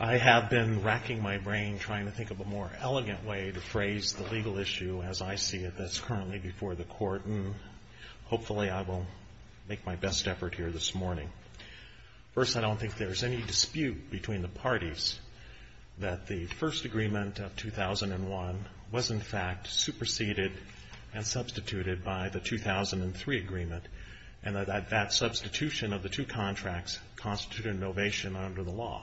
I have been racking my brain trying to think of a more elegant way to phrase the legal issue as I see it that's currently before the Court and hopefully I will make my best effort here this morning. First, I don't think there is any dispute between the parties that the first agreement of 2001 was in fact superseded and substituted by the 2003 agreement and that that substitution of the two contracts constituted an ovation under the law.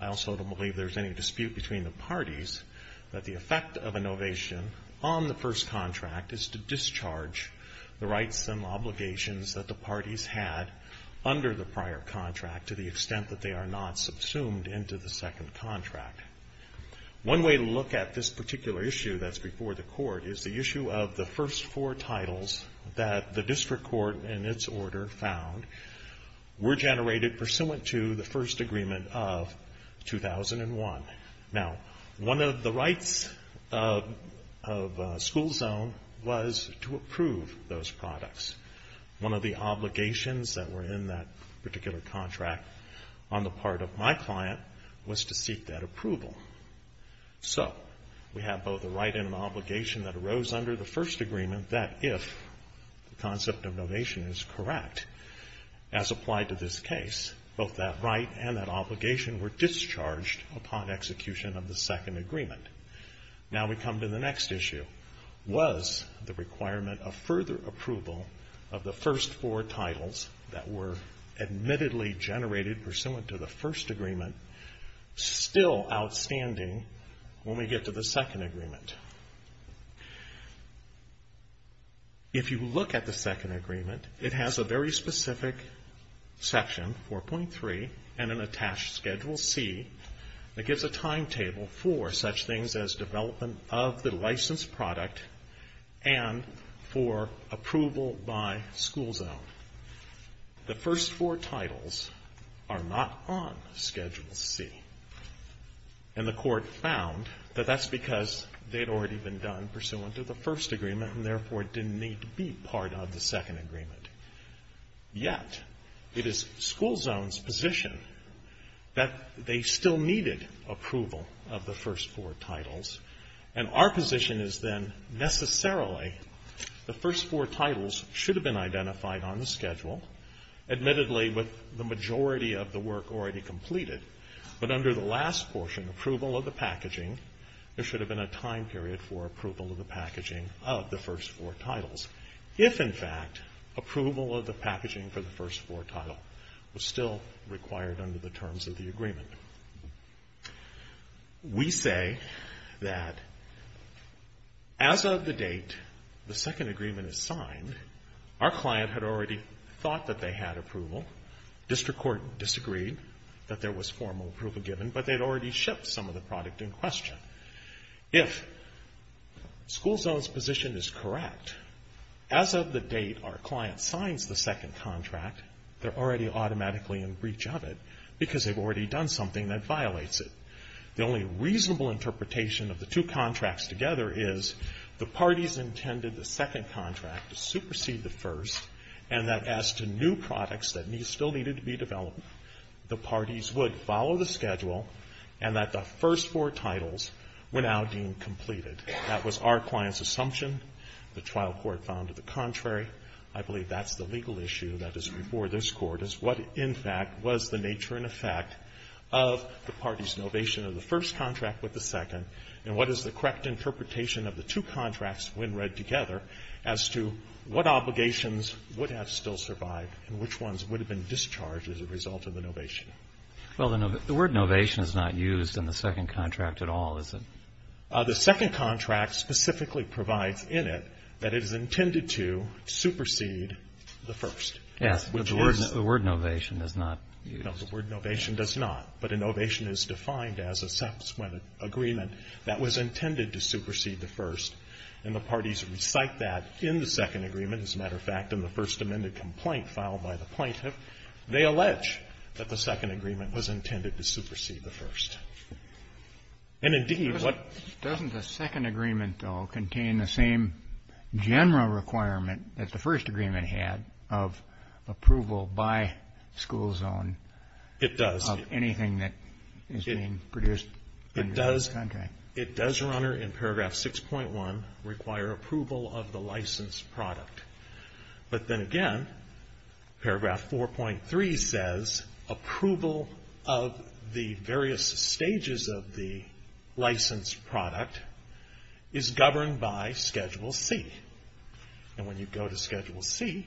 I also don't believe there is any dispute between the parties that the effect of an ovation on the first contract is to discharge the rights and obligations that the parties had under the prior contract to the extent that they are not subsumed into the second contract. One way to look at this particular issue that's before the Court is the issue of the first four titles that the District Court in its order found were generated pursuant to the to approve those products. One of the obligations that were in that particular contract on the part of my client was to seek that approval. So, we have both a right and an obligation that arose under the first agreement that if the concept of ovation is correct as applied to this case, both that right and that obligation were discharged upon execution of the second requirement of further approval of the first four titles that were admittedly generated pursuant to the first agreement still outstanding when we get to the second agreement. If you look at the second agreement, it has a very specific section, 4.3, and an attached schedule C that gives a timetable for such things as development of the licensed product and for approval by school zone. The first four titles are not on schedule C, and the Court found that that's because they'd already been done pursuant to the first agreement and therefore didn't need to be part of the second agreement. Yet, it is school zone's position that they still needed approval of the first four titles, and our position is then necessarily the first four titles should have been identified on the schedule, admittedly with the majority of the work already completed, but under the last portion, approval of the packaging, there should have been a time period for approval of the packaging of the first four titles. If, in fact, approval of the packaging for the first four title was still required under the terms of the agreement, we say that as of the date the second agreement is signed, our client had already thought that they had approval. District Court disagreed that there was formal approval given, but they'd already shipped some of the product in question. If school zone's position is correct, as of the date our client signs the second contract, they're already automatically in breach of it because they've already done something that violates it. The only reasonable interpretation of the two contracts together is the parties intended the second contract to supersede the first, and that as to new products that still needed to be developed, the parties would follow the schedule and that the first four titles were now deemed completed. That was our client's I believe that's the legal issue that is before this Court, is what, in fact, was the nature and effect of the parties' novation of the first contract with the second, and what is the correct interpretation of the two contracts, when read together, as to what obligations would have still survived and which ones would have been discharged as a result of the novation. Well, the word novation is not used in the second contract at all, is it? The second contract specifically provides in it that it is intended to supersede the first. Yes, but the word novation does not use it. No, the word novation does not, but a novation is defined as a subsequent agreement that was intended to supersede the first, and the parties recite that in the second agreement. As a matter of fact, in the first amended complaint filed by the plaintiff, they allege that the second agreement was intended to supersede the first. And, indeed, what Doesn't the second agreement, though, contain the same general requirement that the first agreement had of approval by school zone of anything that is being produced under this contract? It does, Your Honor, in paragraph 6.1, require approval of the licensed product. But then again, paragraph 4.3 says approval of the various stages of the licensed product is governed by Schedule C. And when you go to Schedule C,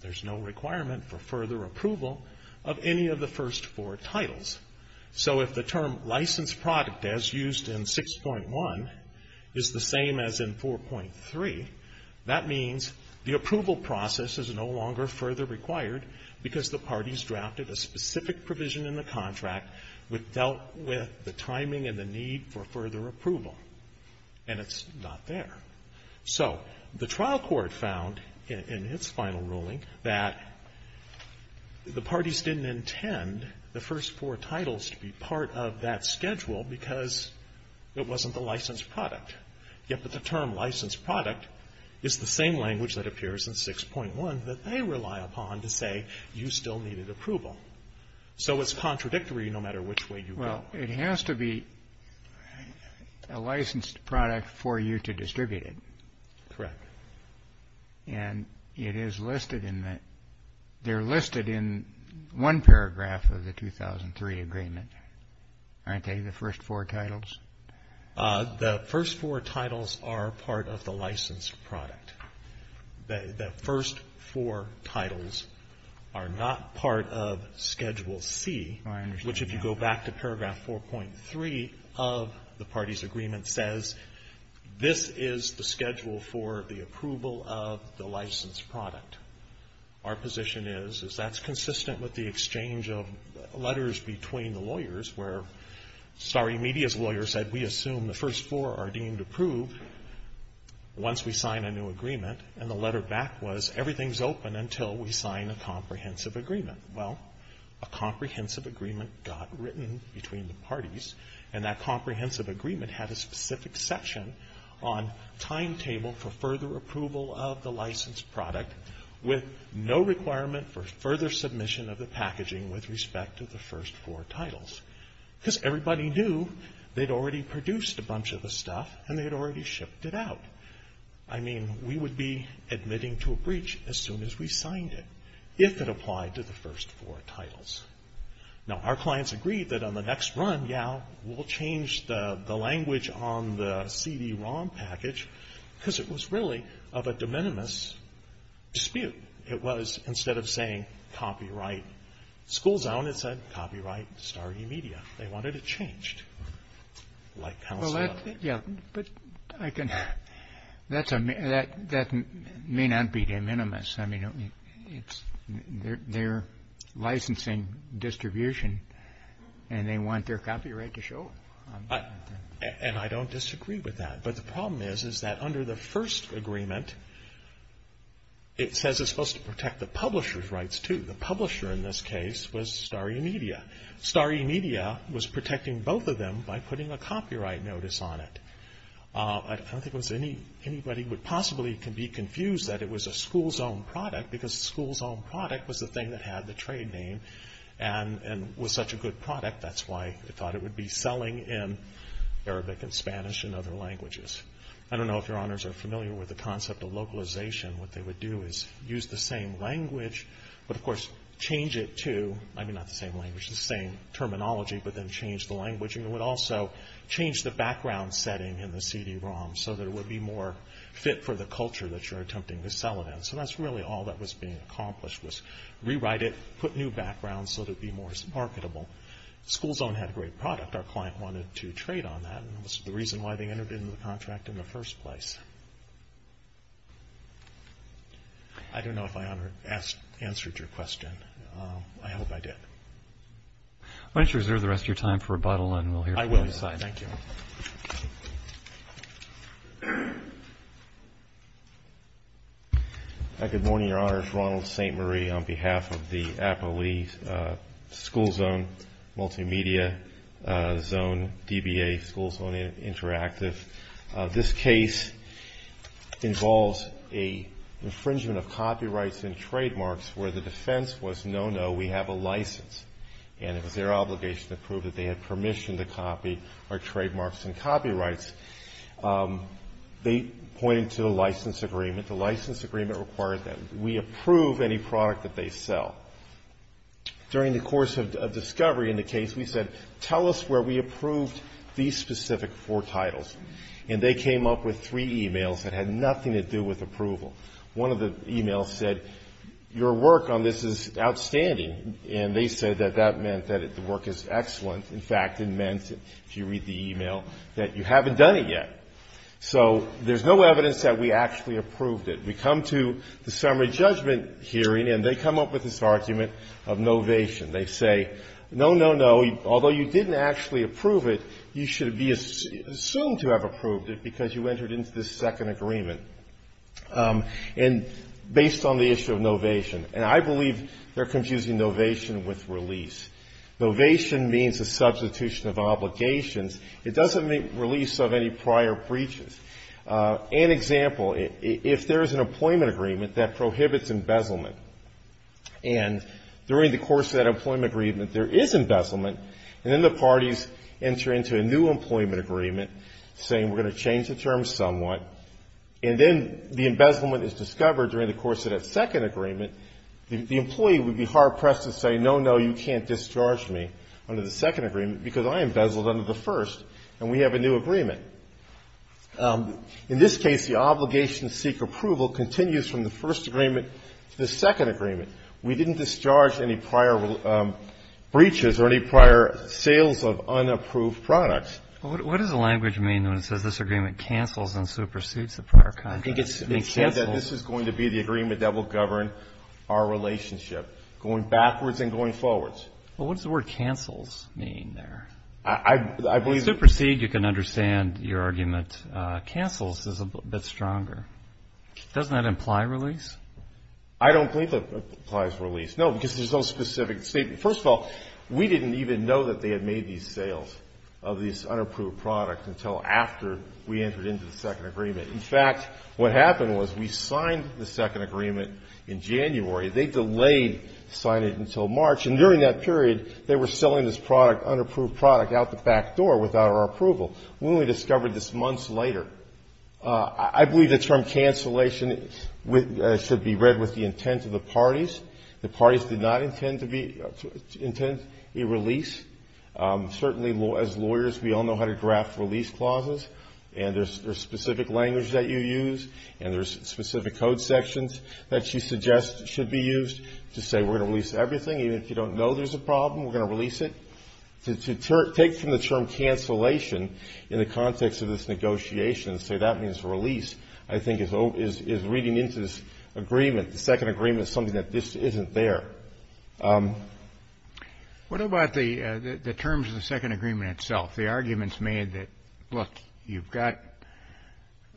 there's no requirement for further approval of any of the first four titles. So if the term licensed product, as used in 6.1, is the same as in 4.3, that means the approval process is no longer further required because the parties drafted a specific provision in the contract that dealt with the timing and the need for further approval, and it's not there. So the trial court found in its final ruling that the parties didn't intend the first four titles to be part of that schedule because it wasn't the licensed product. Yet with the term licensed product, it's the same language that appears in 6.1 that they rely upon to say, you still needed approval. So it's contradictory no matter which way you go. Well, it has to be a licensed product for you to distribute it. Correct. And it is listed in the, they're listed in one paragraph of the 2003 agreement, aren't they, the first four titles? The first four titles are part of the licensed product. The first four titles are not part of Schedule C, which, if you go back to paragraph 4.3 of the parties' agreement, says this is the schedule for the approval of the licensed product. Our position is, is that's consistent with the exchange of letters between the lawyers where Starry Media's lawyer said we assume the first four are deemed approved once we sign a new agreement, and the letter back was everything's open until we sign a comprehensive agreement. Well, a comprehensive agreement got written between the parties, and that comprehensive agreement had a specific section on timetable for further approval of the licensed product, with no requirement for further submission of the packaging with respect to the first four titles. Because everybody knew they'd already produced a bunch of the stuff, and they'd already shipped it out. I mean, we would be admitting to a breach as soon as we signed it, if it applied to the first four titles. Now, our clients agreed that on the next run, yeah, we'll change the language on the CD-ROM package, because it was really of a de minimis dispute. It was, instead of saying copyright school zone, it said copyright Starry Media. They wanted it changed. Well, yeah, but I can, that may not be de minimis. I mean, it's their licensing distribution, and they want their copyright to show up. And I don't disagree with that. But the problem is, is that under the first agreement, it says it's supposed to protect the publisher's rights, too. The publisher, in this case, was Starry Media. Starry Media was protecting both of them by putting a copyright notice on it. I don't think it was anybody would possibly be confused that it was a school zone product, because a school zone product was the thing that had the trade name, and was such a good product, that's why they thought it would be selling in Arabic and Spanish and other languages. I don't know if your honors are familiar with the concept of localization. What they would do is use the same language, but of course, change it to, I mean, not the same language, the same terminology, but then change the language. And it would also change the background setting in the CD-ROM, so that it would be more fit for the culture that you're attempting to sell it in. So that's really all that was being accomplished, was rewrite it, put new backgrounds, so that it would be more marketable. The school zone had a great product. Our client wanted to trade on that, and that was the reason why they entered into the contract in the first place. I don't know if I answered your question. I hope I did. Why don't you reserve the rest of your time for rebuttal, and we'll hear from you inside. I will. Thank you. Good morning, your honors. Ronald St. Marie on behalf of the Apo Lee School Zone Multimedia Zone, DBA, School Zone Interactive. This case involves an infringement of copyrights and trademarks where the defense was, no, no, we have a license. And it was their obligation to prove that they had permission to copy our trademarks and copyrights. They pointed to the license agreement. The license agreement required that we approve any product that they sell. During the course of discovery in the case, we said, tell us where we approved these specific four titles. And they came up with three e-mails that had nothing to do with approval. One of the e-mails said, your work on this is outstanding. And they said that that meant that the work is excellent. In fact, it meant, if you read the e-mail, that you haven't done it yet. So there's no evidence that we actually approved it. We come to the summary judgment hearing, and they come up with this argument of novation. They say, no, no, no, although you didn't actually approve it, you should be assumed to have approved it because you entered into this second agreement. And based on the issue of novation. And I say novation with release. Novation means a substitution of obligations. It doesn't mean release of any prior breaches. An example, if there is an employment agreement that prohibits embezzlement, and during the course of that employment agreement there is embezzlement, and then the parties enter into a new employment agreement saying we're going to change the terms somewhat, and then the embezzlement is discovered during the course of that second agreement, the employee would be hard pressed to say, no, no, you can't discharge me under the second agreement because I embezzled under the first, and we have a new agreement. In this case, the obligation to seek approval continues from the first agreement to the second agreement. We didn't discharge any prior breaches or any prior sales of unapproved products. Well, what does the language mean when it says this agreement cancels and supersedes the prior contract? I think it means cancels. It says that this is going to be the agreement that will govern our relationship going backwards and going forwards. Well, what does the word cancels mean there? I believe the ---- Supersede, you can understand your argument. Cancels is a bit stronger. Doesn't that imply release? I don't believe it implies release. No, because there's no specific statement. First of all, we didn't even know that they had made these sales of these unapproved products until after we entered into the second agreement. In fact, what happened was we signed the second agreement in January. They delayed signing it until March, and during that period, they were selling this product, unapproved product, out the back door without our approval. We only discovered this months later. I believe the term cancellation should be read with the intent of the parties. The parties did not intend a release. Certainly, as lawyers, we all know how to draft release clauses, and there's specific language that you use, and there's specific code sections that you suggest should be used to say we're going to release everything. Even if you don't know there's a problem, we're going to release it. To take from the term cancellation in the context of this negotiation and say that means release, I think is reading into this agreement. The second agreement is something that just isn't there. What about the terms of the second agreement itself? The arguments made that, look, you've got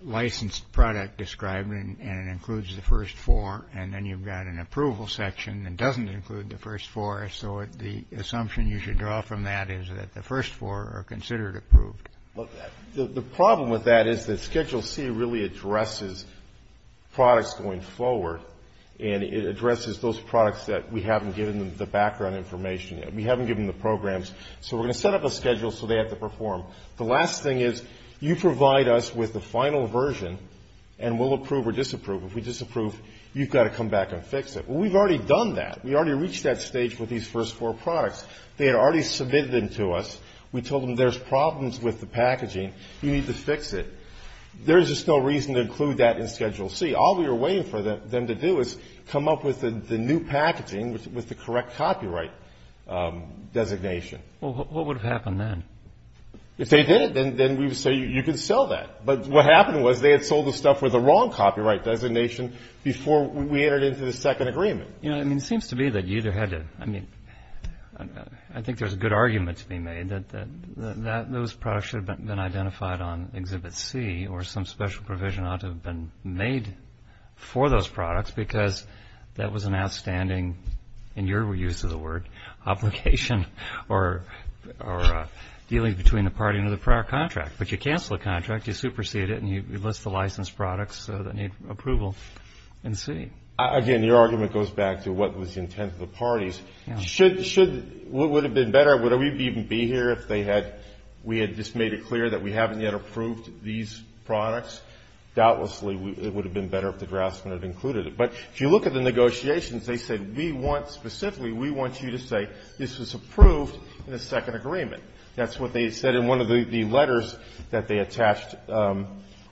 licensed product described, and it includes the first four, and then you've got an approval section that doesn't include the first four, so the assumption you should draw from that is that the first four are considered approved. Well, the problem with that is that Schedule C really addresses products going forward, and it addresses those products that we haven't given them the background information. We haven't given them the programs, so we're going to set up a schedule so they have to perform. The last thing is you provide us with the final version, and we'll approve or disapprove. If we disapprove, you've got to come back and fix it. Well, we've already done that. We already reached that stage with these first four products. They had already submitted them to us. We told them there's problems with the packaging. You need to fix it. There's just no reason to include that in Schedule C. All we were waiting for them to do is come up with the new packaging with the correct copyright designation. Well, what would have happened then? If they did it, then we would say you can sell that. But what happened was they had sold the stuff with the wrong copyright designation before we entered into the second agreement. You know, I mean, it seems to me that you either had to, I mean, I think there's a good argument to be made that those products should have been identified on Exhibit C or some special provision ought to have been made for those products because that was an outstanding, in your use of the word, obligation or dealing between the party and the prior contract. But you cancel a contract, you supersede it, and you list the licensed products that need approval in C. Again, your argument goes back to what was the intent of the parties. Should, would it have been better, would we even be here if they had, we had just made it clear that we haven't yet approved these products? Doubtlessly, it would have been better if the draftsman had included it. But if you look at the negotiations, they said we want specifically, we want you to say this was approved in the second agreement. That's what they said in one of the letters that they attached or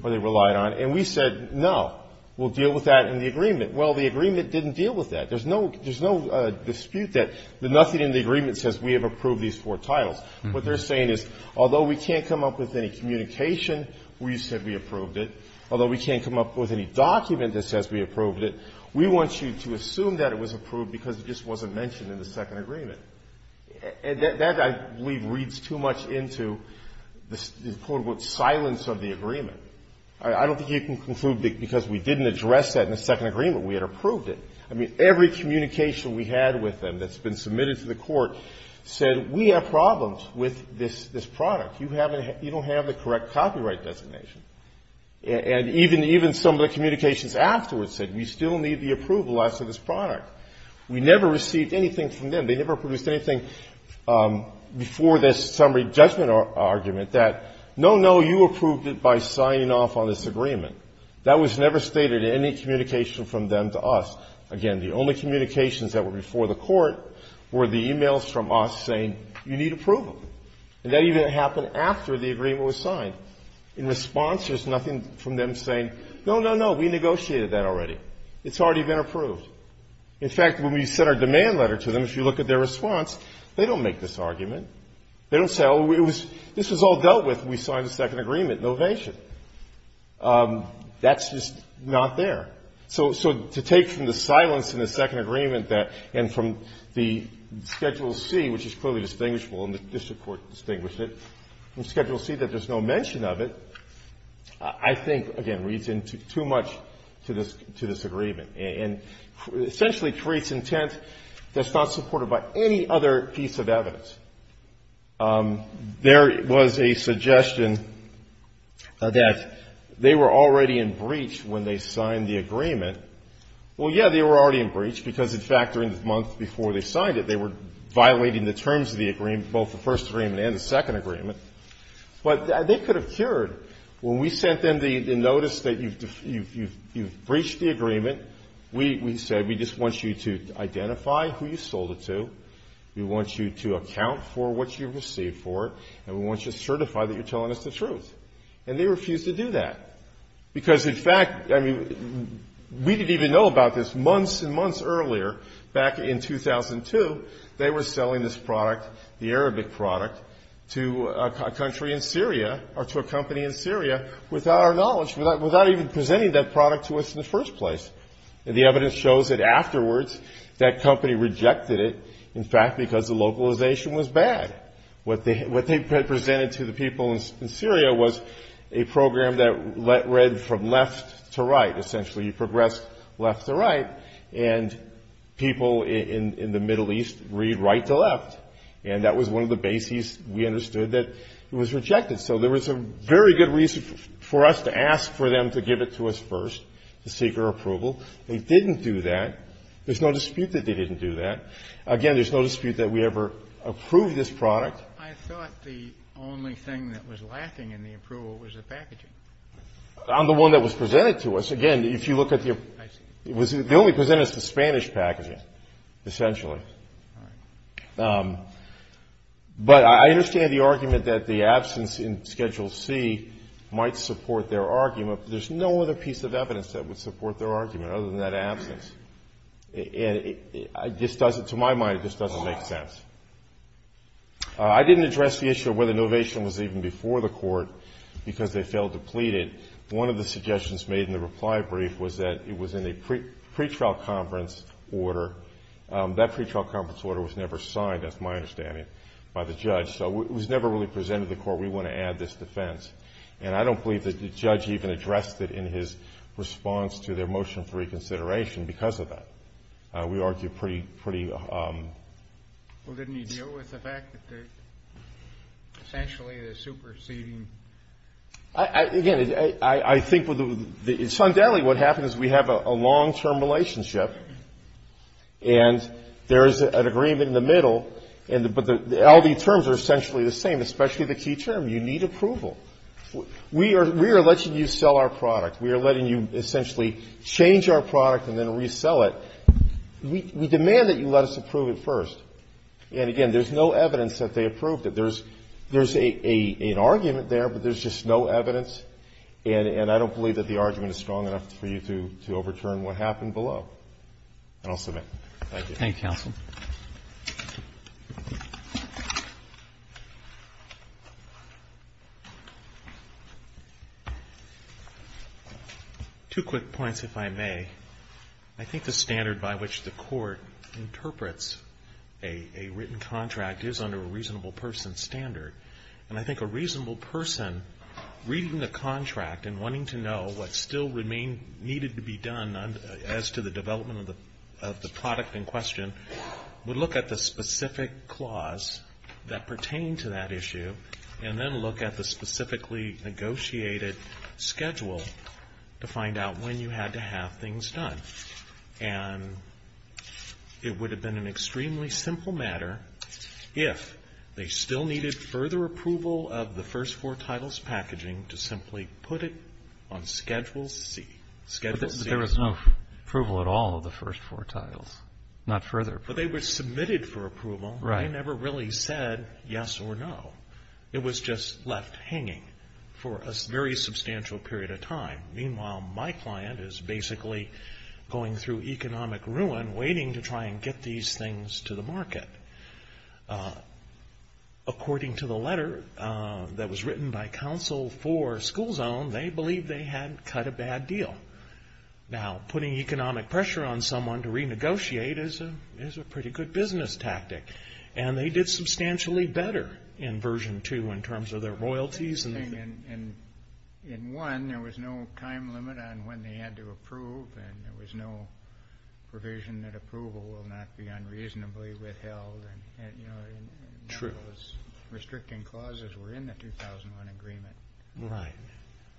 they relied on. And we said, no, we'll deal with that in the agreement. Well, the agreement didn't deal with that. There's no dispute that nothing in the agreement says we have approved these four titles. What they're saying is, although we can't come up with any communication where you said we approved it, although we can't come up with any document that says we approved it, we want you to assume that it was approved because it just wasn't mentioned in the second agreement. That, I believe, reads too much into the, quote, unquote, silence of the agreement. I don't think you can conclude because we didn't address that in the second agreement we had approved it. I mean, every communication we had with them that's been submitted to the Court said we have problems with this product. You don't have the correct copyright designation. And even some of the communications afterwards said we still need the approval as to this product. We never received anything from them. They never produced anything before this summary judgment argument that, no, no, you approved it by signing off on this agreement. That was never stated in any communication from them to us. Again, the only communications that were before the Court were the e-mails from us saying you need approval. And that even happened after the agreement was signed. In response, there's nothing from them saying, no, no, no, we negotiated that already. It's already been approved. In fact, when we sent our demand letter to them, if you look at their response, they don't make this argument. They don't say, oh, this was all dealt with when we signed the second agreement. No evasion. That's just not there. So to take from the silence in the second agreement and from the Schedule C, which is clearly distinguishable and the district court distinguished it, from Schedule C that there's no mention of it, I think, again, reads into too much to this agreement and essentially creates intent that's not supported by any other piece of evidence. There was a suggestion that they were already in breach when they signed the agreement. Well, yeah, they were already in breach because, in fact, during the month before they signed it, they were violating the terms of the agreement, both the first agreement and the second agreement. But they could have cured. When we sent them the notice that you've breached the agreement, we said we just want you to identify who you sold it to. We want you to account for what you received for it. And we want you to certify that you're telling us the truth. And they refused to do that. Because, in fact, I mean, we didn't even know about this. Months and months earlier, back in 2002, they were selling this product, the Arabic product, to a country in Syria or to a company in Syria without our knowledge, without even presenting that product to us in the first place. The evidence shows that afterwards that company rejected it, in fact, because the localization was bad. What they presented to the people in Syria was a program that read from left to right. Essentially, you progress left to right. And people in the Middle East read right to left. And that was one of the bases we understood that it was rejected. So there was a very good reason for us to ask for them to give it to us first, to give it to us. But we didn't do that. They didn't do that. There's no dispute that they didn't do that. Again, there's no dispute that we ever approved this product. I thought the only thing that was lacking in the approval was the packaging. On the one that was presented to us. Again, if you look at the ---- I see. The only presented is the Spanish packaging, essentially. All right. But I understand the argument that the absence in Schedule C might support their argument. But there's no other piece of evidence that would support their argument other than that absence. And it just doesn't, to my mind, it just doesn't make sense. I didn't address the issue of whether innovation was even before the court because they felt depleted. One of the suggestions made in the reply brief was that it was in a pretrial conference order. That pretrial conference order was never signed, that's my understanding, by the judge. So it was never really presented to the court, we want to add this defense. And I don't believe that the judge even addressed it in his response to their motion for reconsideration because of that. We argue pretty ---- Well, didn't he deal with the fact that essentially the superseding ---- Again, I think with the ---- In Sun Deli, what happens is we have a long-term relationship. And there's an agreement in the middle. But all these terms are essentially the same, especially the key term, you need approval. We are letting you sell our product. We are letting you essentially change our product and then resell it. We demand that you let us approve it first. And, again, there's no evidence that they approved it. There's an argument there, but there's just no evidence. And I don't believe that the argument is strong enough for you to overturn what happened below. And I'll submit. Thank you. Thank you, counsel. Two quick points, if I may. I think the standard by which the Court interprets a written contract is under a reasonable person standard. And I think a reasonable person reading the contract and wanting to know what still remained needed to be done as to the development of the product in question would look at the specific clause that pertained to that issue and then look at the specifically negotiated schedule to find out when you had to have things done. And it would have been an extremely simple matter if they still needed further approval of the first four titles packaging to simply put it on Schedule C. Schedule C. But there was no approval at all of the first four titles. Not further. But they were submitted for approval. Right. They never really said yes or no. It was just left hanging for a very substantial period of time. Meanwhile, my client is basically going through economic ruin waiting to try and get these things to the market. According to the letter that was written by counsel for school zone, they believed they had cut a bad deal. Now, putting economic pressure on someone to renegotiate is a pretty good business tactic. And they did substantially better in Version 2 in terms of their royalties. And in one, there was no time limit on when they had to approve. And there was no provision that approval will not be unreasonably withheld. True. Restricting clauses were in the 2001 agreement. Right.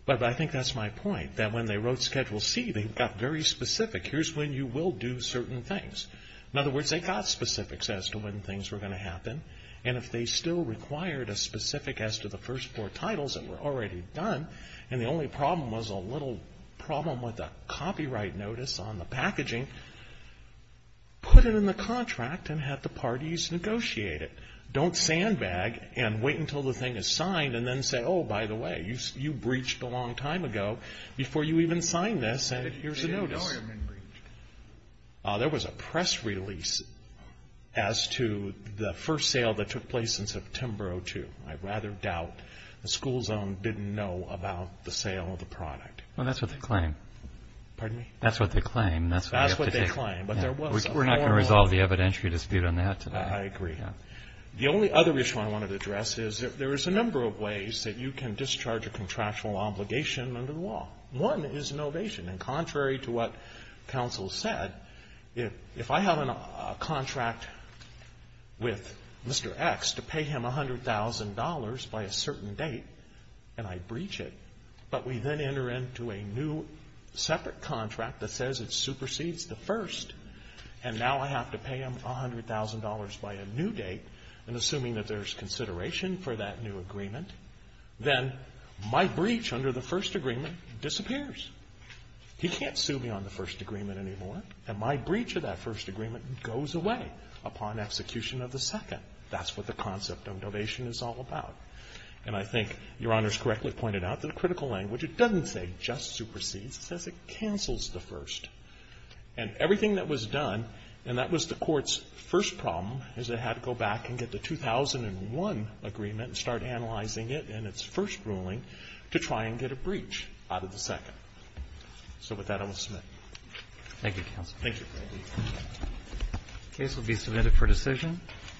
But I think that's my point, that when they wrote Schedule C, they got very specific. Here's when you will do certain things. In other words, they got specifics as to when things were going to happen. And if they still required a specific as to the first four titles that were already done, and the only problem was a little problem with a copyright notice on the packaging, put it in the contract and have the parties negotiate it. Don't sandbag and wait until the thing is signed and then say, oh, by the way, you breached a long time ago before you even signed this, and here's a notice. There was a press release as to the first sale that took place in September of 2002. I rather doubt the school zone didn't know about the sale of the product. Well, that's what they claim. Pardon me? That's what they claim. That's what they claim. But there was. We're not going to resolve the evidentiary dispute on that today. I agree. The only other issue I wanted to address is there is a number of ways that you can discharge a contractual obligation under the law. One is an ovation. And contrary to what counsel said, if I have a contract with Mr. X to pay him $100,000 by a certain date and I breach it, but we then enter into a new separate contract that says it supersedes the first, and now I have to pay him $100,000 by a new date, and assuming that there's consideration for that new agreement, then my breach under the first agreement disappears. He can't sue me on the first agreement anymore, and my breach of that first agreement goes away upon execution of the second. That's what the concept of ovation is all about. And I think Your Honor's correctly pointed out that a critical language, it doesn't say just supersedes. It says it cancels the first. And everything that was done, and that was the Court's first problem, is it had to go back and get the 2001 agreement and start analyzing it in its first ruling to try and get a breach out of the second. So with that, I will submit. Thank you, counsel. Thank you. The case will be submitted for decision.